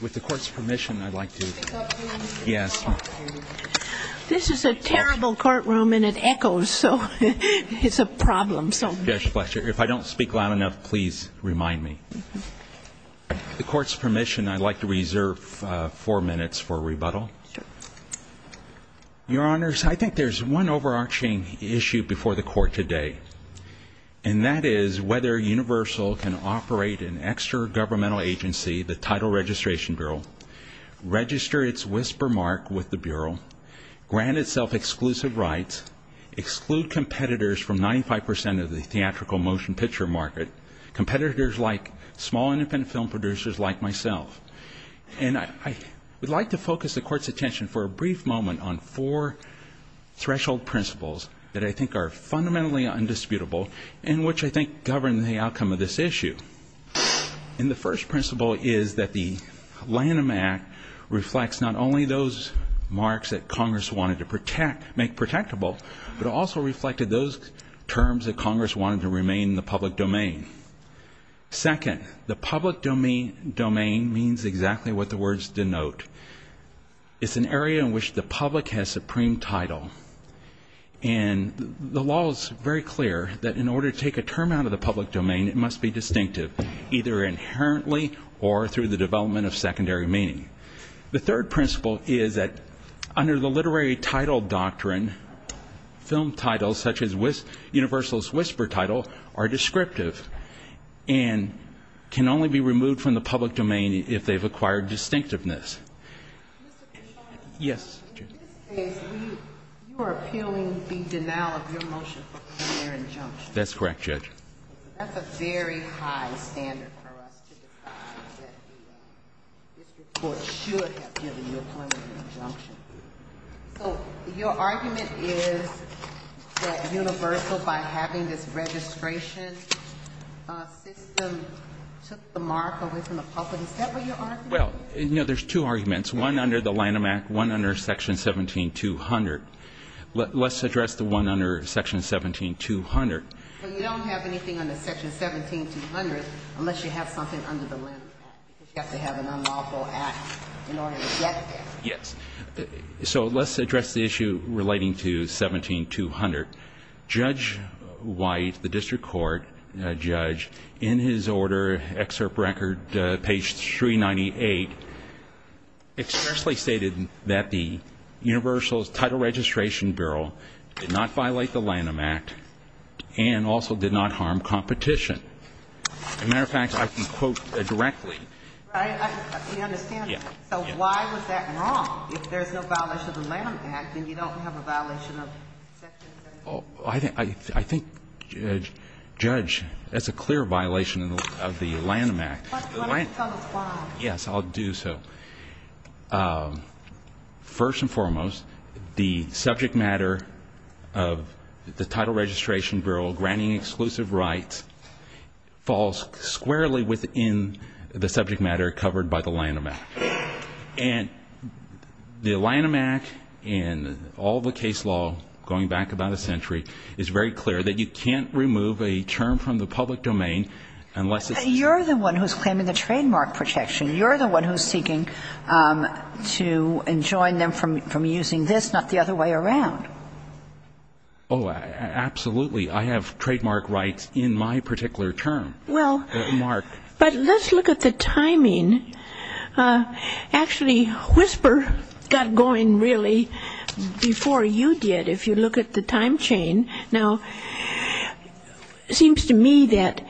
With the court's permission, I'd like to This is a terrible courtroom and it echoes, so it's a problem. If I don't speak loud enough, please remind me. With the court's permission, I'd like to reserve four minutes for rebuttal. Your Honors, I think there's one overarching issue before the court today, and that is whether Universal can operate an extra-governmental agency, the Title Registration Bureau, register its whisper mark with the Bureau, grant itself exclusive rights, exclude competitors from 95 percent of the theatrical motion picture market, competitors like small independent film producers like myself. And I would like to focus the court's attention for a brief moment on four threshold principles that I think are fundamentally undisputable and which I think govern the outcome of this issue. And the first principle is that the Lanham Act reflects not only those marks that Congress wanted to protect, make protectable, but also reflected those terms that Congress wanted to remain in the public domain. Second, the public domain means exactly what the words denote. It's an area in which the public has supreme title. And the law is very clear that in order to take a term out of the public domain, it must be distinctive, either inherently or through the development of secondary meaning. The third principle is that under the literary title doctrine, film titles such as Universal's Whisper Title are descriptive and can only be removed from the public domain if they've acquired distinctiveness. Yes. In this case, you are appealing the denial of your motion for primary injunction. That's correct, Judge. That's a very high standard for us to define that the district court should have given you a point of injunction. So your argument is that Universal, by having this registration system, took the mark away from the public. Is that what you're arguing? Well, you know, there's two arguments, one under the Lanham Act, one under Section 17-200. Let's address the one under Section 17-200. So you don't have anything under Section 17-200 unless you have something under the Lanham Act, because you have to have an unlawful act in order to get there. Yes. So let's address the issue relating to 17-200. Judge White, the district court judge, in his order, excerpt record, page 398, expressly stated that the Universal's Title Registration Bureau did not violate the Lanham Act and also did not harm competition. As a matter of fact, I can quote directly. I understand. So why was that wrong? If there's no violation of the Lanham Act, then you don't have a violation of Section 17-200. I think, Judge, that's a clear violation of the Lanham Act. Why don't you tell us why? Yes, I'll do so. First and foremost, the subject matter of the Title Registration Bureau granting exclusive rights falls squarely within the subject matter covered by the Lanham Act. And the Lanham Act and all the case law, going back about a century, is very clear that you can't remove a term from the public domain unless it's You're the one who's claiming the trademark protection. You're the one who's seeking to enjoin them from using this, not the other way around. Oh, absolutely. I have trademark rights in my particular term. Well, but let's look at the timing. Actually, Whisper got going, really, before you did, if you look at the time chain. Now, it seems to me that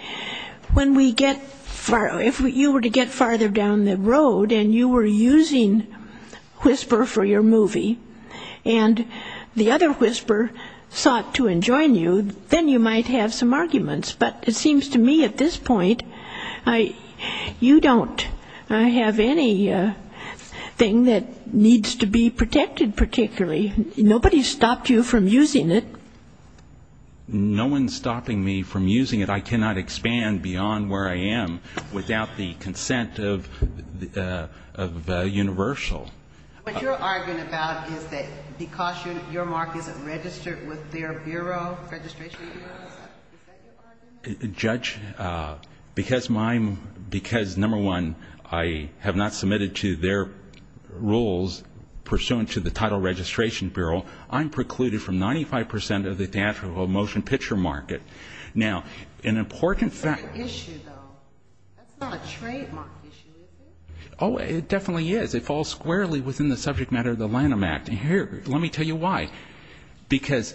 when we get far, if you were to get farther down the road and you were using Whisper for your movie and the other Whisper sought to enjoin you, then you might have some arguments. But it seems to me at this point you don't have anything that needs to be protected particularly. Nobody's stopped you from using it. No one's stopping me from using it. I cannot expand beyond where I am without the consent of Universal. What you're arguing about is that because your mark isn't registered with their bureau, registration bureau, is that your argument? Judge, because, number one, I have not submitted to their rules pursuant to the title registration bureau, I'm precluded from 95 percent of the theatrical motion picture market. Now, an important fact. That's not an issue, though. That's not a trademark issue, is it? Oh, it definitely is. It falls squarely within the subject matter of the Lanham Act. And here, let me tell you why. Because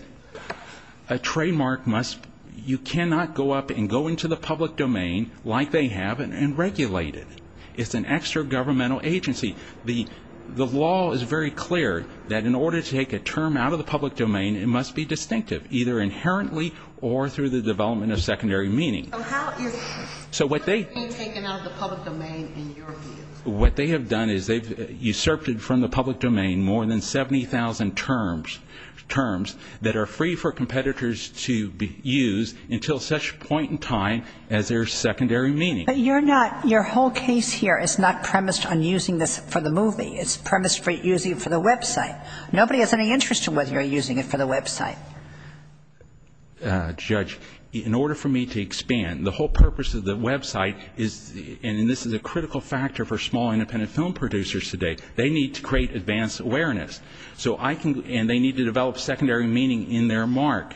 a trademark must, you cannot go up and go into the public domain like they have and regulate it. It's an extra-governmental agency. The law is very clear that in order to take a term out of the public domain, it must be distinctive either inherently or through the development of secondary meaning. So how is it being taken out of the public domain in your view? What they have done is they've usurped from the public domain more than 70,000 terms that are free for competitors to use until such point in time as there's secondary meaning. But you're not, your whole case here is not premised on using this for the movie. It's premised for using it for the website. Nobody has any interest in whether you're using it for the website. Judge, in order for me to expand, the whole purpose of the website is, and this is a critical factor for small independent film producers today, they need to create advanced awareness. So I can, and they need to develop secondary meaning in their mark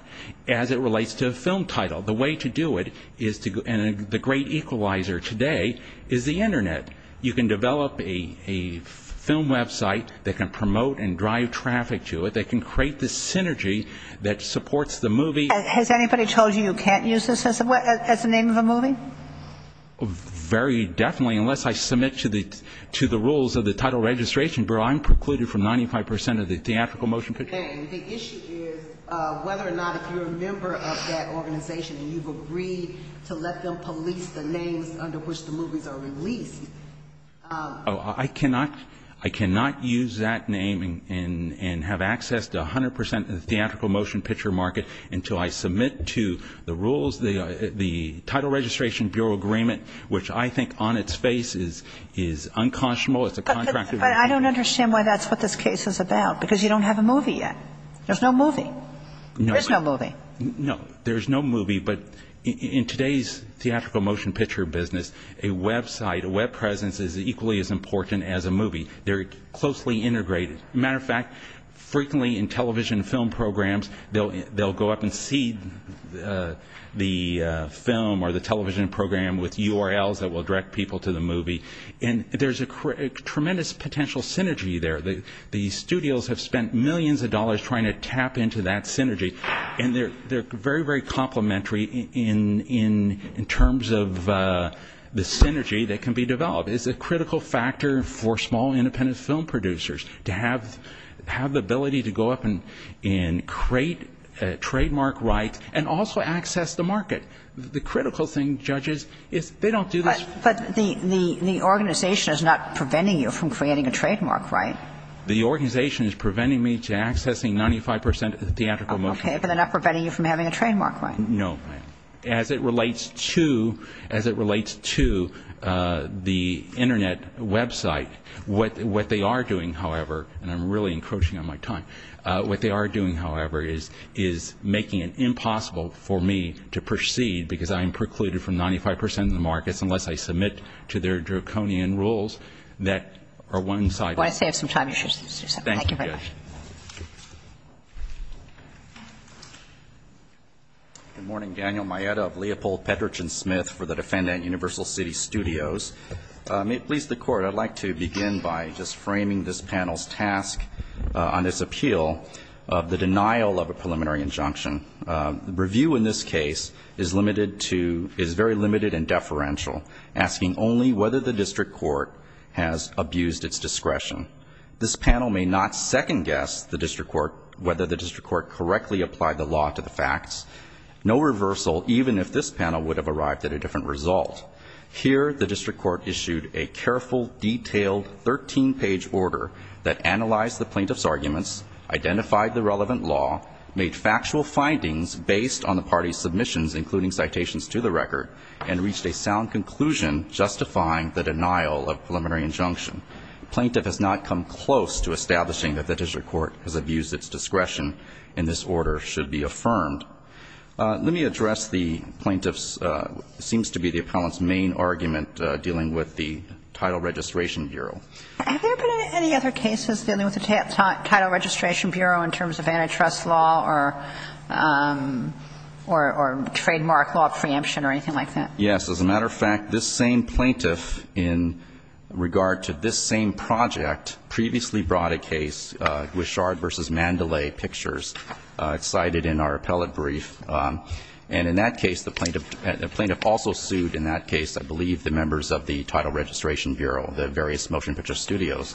as it relates to a film title. The way to do it is to, and the great equalizer today is the Internet. You can develop a film website that can promote and drive traffic to it, that can create this synergy that supports the movie. Has anybody told you you can't use this as a name of a movie? Very definitely, unless I submit to the rules of the Title Registration Bureau, I'm precluded from 95 percent of the theatrical motion picture market. Okay. The issue is whether or not if you're a member of that organization and you've agreed to let them police the names under which the movies are released. I cannot use that name and have access to 100 percent of the theatrical motion picture market until I submit to the rules, the Title Registration Bureau agreement, which I think on its face is unconscionable. But I don't understand why that's what this case is about, because you don't have a movie yet. There's no movie. No. There's no movie. No, there's no movie, but in today's theatrical motion picture business, a website, a web presence is equally as important as a movie. They're closely integrated. As a matter of fact, frequently in television film programs, they'll go up and seed the film or the television program with URLs that will direct people to the movie, and there's a tremendous potential synergy there. The studios have spent millions of dollars trying to tap into that synergy, and they're very, very complementary in terms of the synergy that can be developed. It's a critical factor for small independent film producers to have the ability to go up and create a trademark right and also access the market. The critical thing, judges, is they don't do this. But the organization is not preventing you from creating a trademark right. The organization is preventing me to accessing 95 percent of the theatrical motion. Okay, but they're not preventing you from having a trademark right. No, ma'am. As it relates to the Internet website, what they are doing, however, and I'm really encroaching on my time, what they are doing, however, is making it impossible for me to proceed because I am precluded from 95 percent of the markets unless I submit to their draconian rules that are one-sided. Thank you very much. Thank you. Good morning. Daniel Maeda of Leopold Petrich & Smith for the defendant at Universal City Studios. May it please the Court, I'd like to begin by just framing this panel's task on this appeal, the denial of a preliminary injunction. The review in this case is very limited and deferential, asking only whether the district court has abused its discretion. This panel may not second-guess the district court, whether the district court correctly applied the law to the facts. No reversal, even if this panel would have arrived at a different result. Here, the district court issued a careful, detailed 13-page order that analyzed the plaintiff's arguments, identified the relevant law, made factual findings based on the party's submissions, including citations to the record, and reached a sound conclusion justifying the denial of preliminary injunction. The plaintiff has not come close to establishing that the district court has abused its discretion and this order should be affirmed. Let me address the plaintiff's, seems to be the appellant's, main argument dealing with the Title Registration Bureau. Have there been any other cases dealing with the Title Registration Bureau in terms of antitrust law or trademark law preemption or anything like that? Yes. As a matter of fact, this same plaintiff in regard to this same project previously brought a case, Guichard v. Mandalay Pictures. It's cited in our appellate brief. And in that case, the plaintiff also sued, in that case, I believe, the members of the Title Registration Bureau, the various motion picture studios,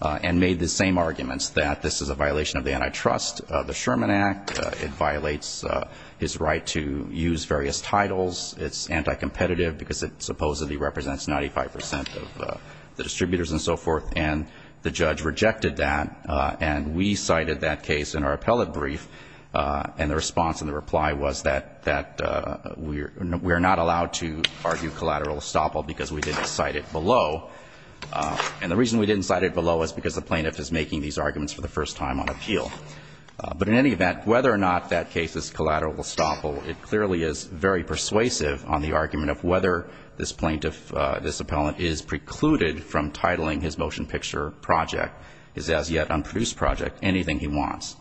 and made the same arguments that this is a violation of the antitrust, the Sherman Act. It violates his right to use various titles. It's anti-competitive because it supposedly represents 95 percent of the distributors and so forth. And the judge rejected that, and we cited that case in our appellate brief. And the response and the reply was that we are not allowed to argue collateral estoppel because we didn't cite it below. And the reason we didn't cite it below is because the plaintiff is making these arguments for the first time on appeal. But in any event, whether or not that case is collateral estoppel, it clearly is very persuasive on the argument of whether this plaintiff, this appellant, is precluded from titling his motion picture project, his as-yet-unproduced project, anything he wants.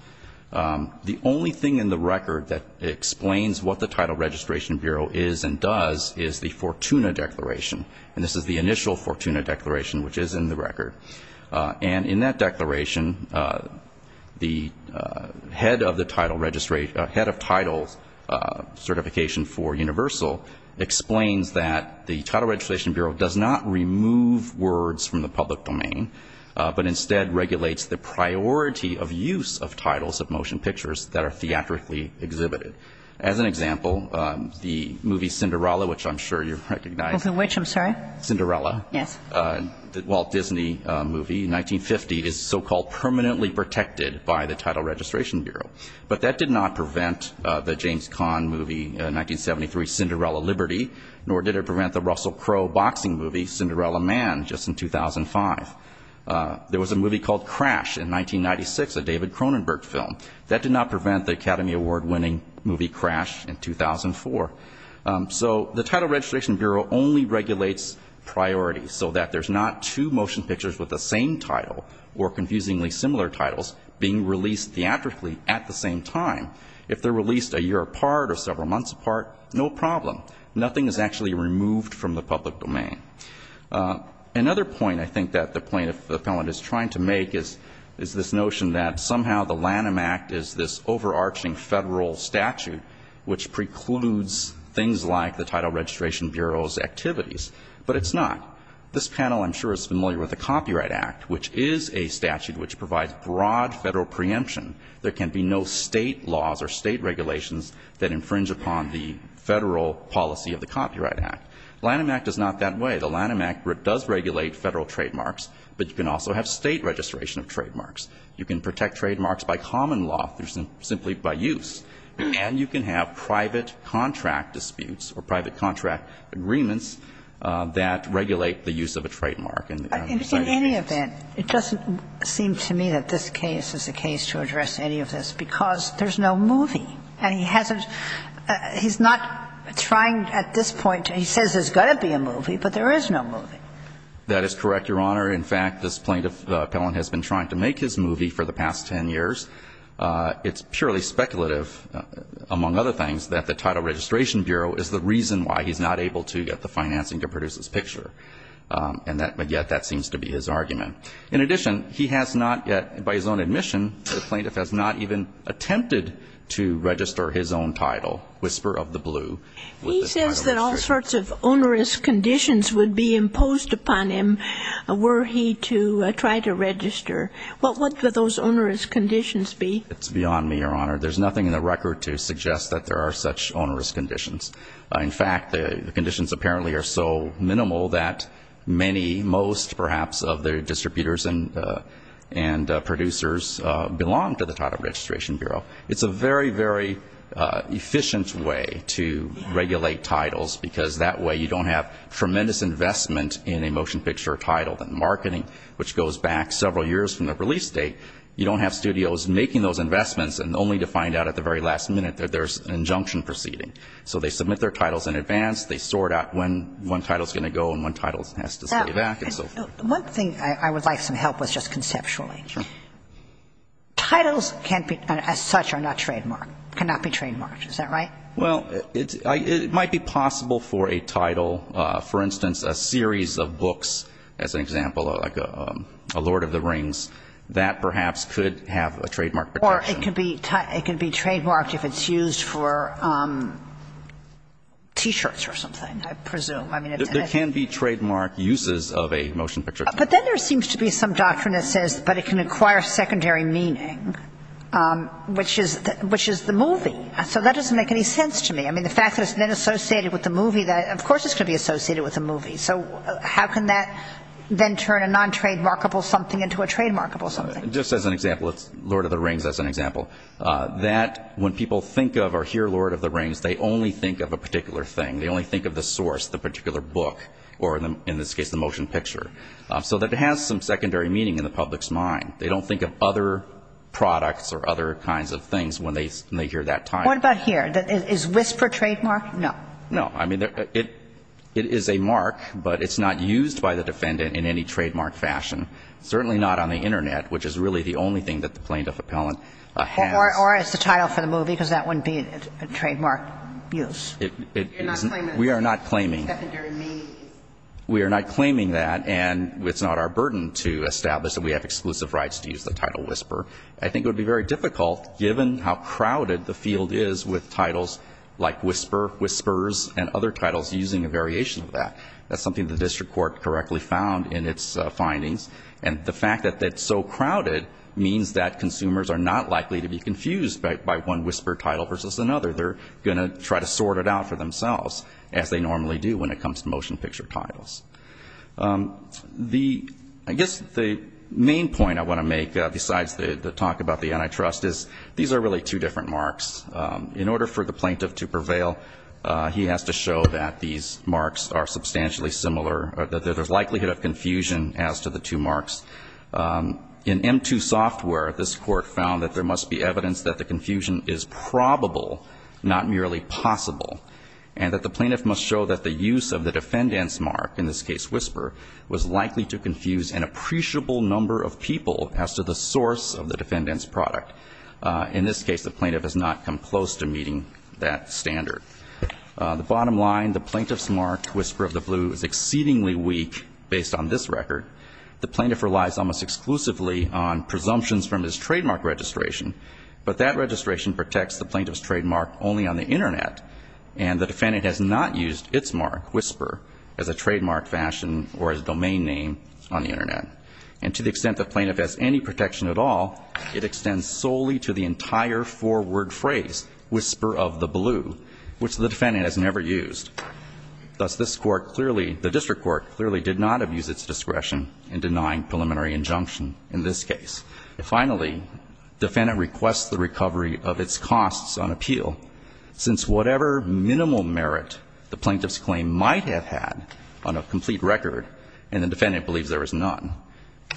The only thing in the record that explains what the Title Registration Bureau is and does is the Fortuna Declaration. And this is the initial Fortuna Declaration, which is in the record. And in that declaration, the head of the title registration, head of title certification for Universal, explains that the Title Registration Bureau does not remove words from the public domain, but instead regulates the priority of use of titles of motion pictures that are theatrically exhibited. As an example, the movie Cinderella, which I'm sure you recognize. Of which, I'm sorry? Cinderella. Yes. The Walt Disney movie in 1950 is so-called permanently protected by the Title Registration Bureau. But that did not prevent the James Caan movie in 1973, Cinderella Liberty, nor did it prevent the Russell Crowe boxing movie, Cinderella Man, just in 2005. There was a movie called Crash in 1996, a David Cronenberg film. That did not prevent the Academy Award-winning movie Crash in 2004. So the Title Registration Bureau only regulates priorities, so that there's not two motion pictures with the same title or confusingly similar titles being released theatrically at the same time. If they're released a year apart or several months apart, no problem. Nothing is actually removed from the public domain. Another point I think that the plaintiff, the felon, is trying to make is this notion that somehow the Lanham Act is this overarching federal statute, which precludes things like the Title Registration Bureau's activities. But it's not. This panel, I'm sure, is familiar with the Copyright Act, which is a statute which provides broad federal preemption. There can be no state laws or state regulations that infringe upon the federal policy of the Copyright Act. Lanham Act is not that way. The Lanham Act does regulate federal trademarks, but you can also have state registration of trademarks. You can protect trademarks by common law through simply by use. And you can have private contract disputes or private contract agreements that regulate the use of a trademark in the United States. In any event, it doesn't seem to me that this case is the case to address any of this because there's no movie. And he hasn't – he's not trying at this point – he says there's got to be a movie, but there is no movie. That is correct, Your Honor. In fact, this plaintiff, the felon, has been trying to make his movie for the past 10 years. It's purely speculative, among other things, that the Title Registration Bureau is the reason why he's not able to get the financing to produce this picture. And yet that seems to be his argument. In addition, he has not yet, by his own admission, the plaintiff has not even attempted to register his own title, Whisper of the Blue. He says that all sorts of onerous conditions would be imposed upon him were he to try to register. Well, what would those onerous conditions be? It's beyond me, Your Honor. There's nothing in the record to suggest that there are such onerous conditions. In fact, the conditions apparently are so minimal that many, most perhaps, of the distributors and producers belong to the Title Registration Bureau. It's a very, very efficient way to regulate titles because that way you don't have tremendous investment in a motion picture title. In marketing, which goes back several years from the release date, you don't have studios making those investments and only to find out at the very last minute that there's an injunction proceeding. So they submit their titles in advance. They sort out when one title's going to go and when one title has to stay back and so forth. One thing I would like some help with just conceptually. Sure. Titles can't be, as such, are not trademarked, cannot be trademarked. Is that right? Well, it might be possible for a title, for instance, a series of books, as an example, like a Lord of the Rings, that perhaps could have a trademark protection. Or it could be trademarked if it's used for T-shirts or something, I presume. There can be trademark uses of a motion picture title. But then there seems to be some doctrine that says, but it can acquire secondary meaning, which is the movie. So that doesn't make any sense to me. I mean, the fact that it's then associated with a movie, of course it's going to be associated with a movie. So how can that then turn a non-trademarkable something into a trademarkable something? Just as an example, Lord of the Rings as an example. That when people think of or hear Lord of the Rings, they only think of a particular thing. They only think of the source, the particular book, or in this case the motion picture. So it has some secondary meaning in the public's mind. They don't think of other products or other kinds of things when they hear that title. What about here? Is Whisper trademarked? No. I mean, it is a mark, but it's not used by the defendant in any trademark fashion. Certainly not on the Internet, which is really the only thing that the plaintiff appellant has. Or as the title for the movie, because that wouldn't be a trademark use. It isn't. You're not claiming that. We are not claiming. Secondary meanings. We are not claiming that. And it's not our burden to establish that we have exclusive rights to use the title Whisper. I think it would be very difficult, given how crowded the field is with titles like Whisper, Whispers, and other titles, using a variation of that. That's something the district court correctly found in its findings. And the fact that it's so crowded means that consumers are not likely to be confused by one Whisper title versus another. They're going to try to sort it out for themselves, as they normally do when it comes to motion picture titles. I guess the main point I want to make, besides the talk about the antitrust, is these are really two different marks. In order for the plaintiff to prevail, he has to show that these marks are substantially similar, that there's likelihood of confusion as to the two marks. In M2 software, this Court found that there must be evidence that the confusion is probable, not merely possible, and that the plaintiff must show that the use of the defendant's mark, in this case Whisper, was likely to confuse an appreciable number of people as to the source of the defendant's product. In this case, the plaintiff has not come close to meeting that standard. The bottom line, the plaintiff's mark, Whisper of the Blue, is exceedingly weak based on this record. The plaintiff relies almost exclusively on presumptions from his trademark registration, but that registration protects the plaintiff's trademark only on the Internet, and the defendant has not used its mark, Whisper, as a trademark fashion or as a domain name on the Internet. And to the extent the plaintiff has any protection at all, it extends solely to the entire four-word phrase, Whisper of the Blue, which the defendant has never used. Thus, this Court clearly, the district court clearly did not abuse its discretion in denying preliminary injunction in this case. Finally, defendant requests the recovery of its costs on appeal, since whatever minimal merit the plaintiff's claim might have had on a complete record, and the plaintiff's trademark,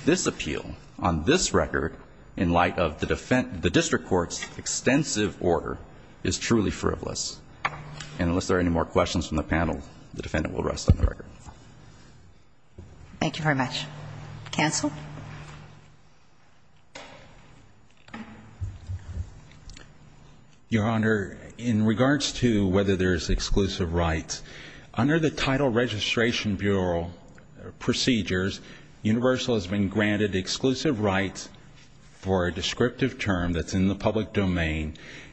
this appeal on this record in light of the district court's extensive order is truly frivolous. And unless there are any more questions from the panel, the defendant will rest on the record. Thank you very much. Cancel. Your Honor, in regards to whether there is exclusive rights, under the title Registration Bureau procedures, Universal has been granted exclusive rights for a descriptive term that's in the public domain,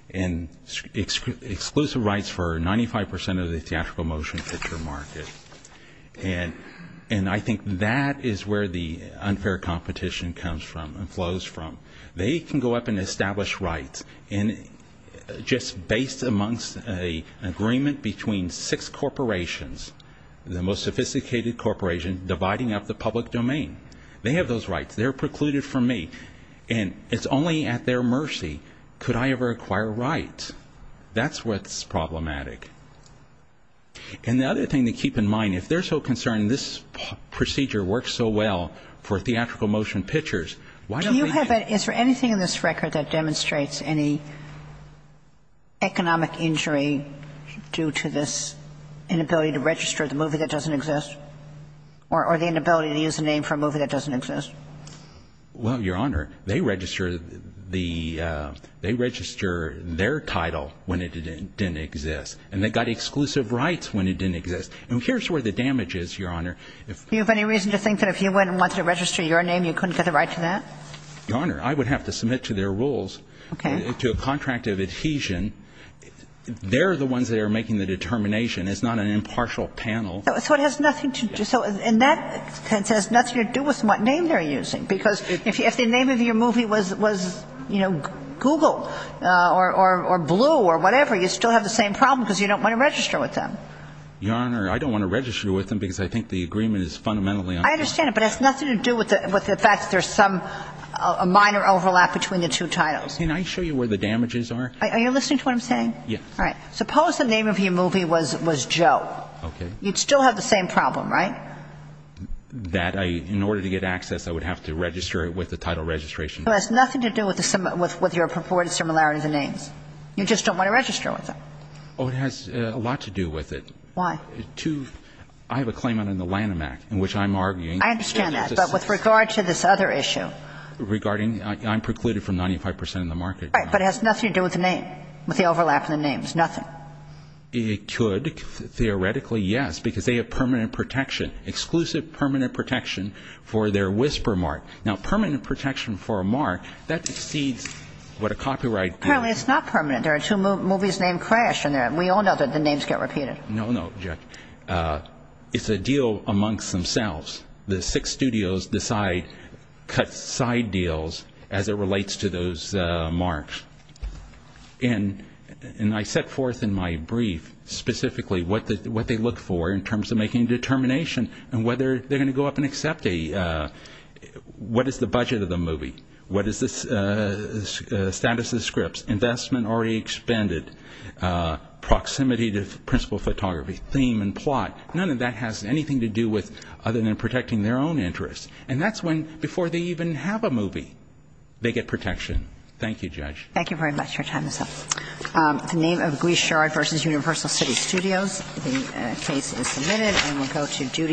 and exclusive rights for 95% of the theatrical motion picture market. And I think that is where the unfair competition comes from and flows from. They can go up and establish rights, and just based amongst an agreement between six corporations, the most sophisticated corporation, dividing up the public domain, they have those rights. They're precluded from me. And it's only at their mercy could I ever acquire rights. That's what's problematic. And the other thing to keep in mind, if they're so concerned this procedure works so well for theatrical motion pictures, why don't they get it? Do you have anything in this record that demonstrates any economic injury due to this inability to register the movie that doesn't exist, or the inability to use the name for a movie that doesn't exist? Well, Your Honor, they registered their title when it didn't exist. And they got exclusive rights when it didn't exist. And here's where the damage is, Your Honor. Do you have any reason to think that if you went and wanted to register your name, you couldn't get a right to that? Your Honor, I would have to submit to their rules, to a contract of adhesion. They're the ones that are making the determination. It's not an impartial panel. So it has nothing to do. So in that sense, it has nothing to do with what name they're using. Because if the name of your movie was, you know, Google or Blue or whatever, you still have the same problem because you don't want to register with them. Your Honor, I don't want to register with them because I think the agreement is fundamentally unfair. I understand it. But it has nothing to do with the fact that there's some minor overlap between the two titles. Can I show you where the damages are? Are you listening to what I'm saying? Yes. All right. Suppose the name of your movie was Joe. Okay. You'd still have the same problem, right? That I, in order to get access, I would have to register with the title registration. It has nothing to do with your purported similarity of the names. You just don't want to register with them. Oh, it has a lot to do with it. Why? I have a claim under the Lanham Act in which I'm arguing. I understand that. But with regard to this other issue. Regarding, I'm precluded from 95 percent of the market. Right. But it has nothing to do with the name. With the overlap in the names. Nothing. It could. Theoretically, yes. Because they have permanent protection. Exclusive permanent protection for their whisper mark. Now, permanent protection for a mark, that exceeds what a copyright. Apparently it's not permanent. There are two movies named Crash in there. We all know that the names get repeated. No, no, Judge. It's a deal amongst themselves. The six studios decide, cut side deals as it relates to those marks. And I set forth in my brief specifically what they look for in terms of making a determination and whether they're going to go up and accept a, what is the budget of the movie? What is the status of the scripts? Investment already expended. Proximity to principal photography. Theme and plot. None of that has anything to do with other than protecting their own interests. And that's when, before they even have a movie, they get protection. Thank you, Judge. Thank you very much. Your time is up. The name of Guichard v. Universal City Studios. The case is submitted. And we'll go to Judy.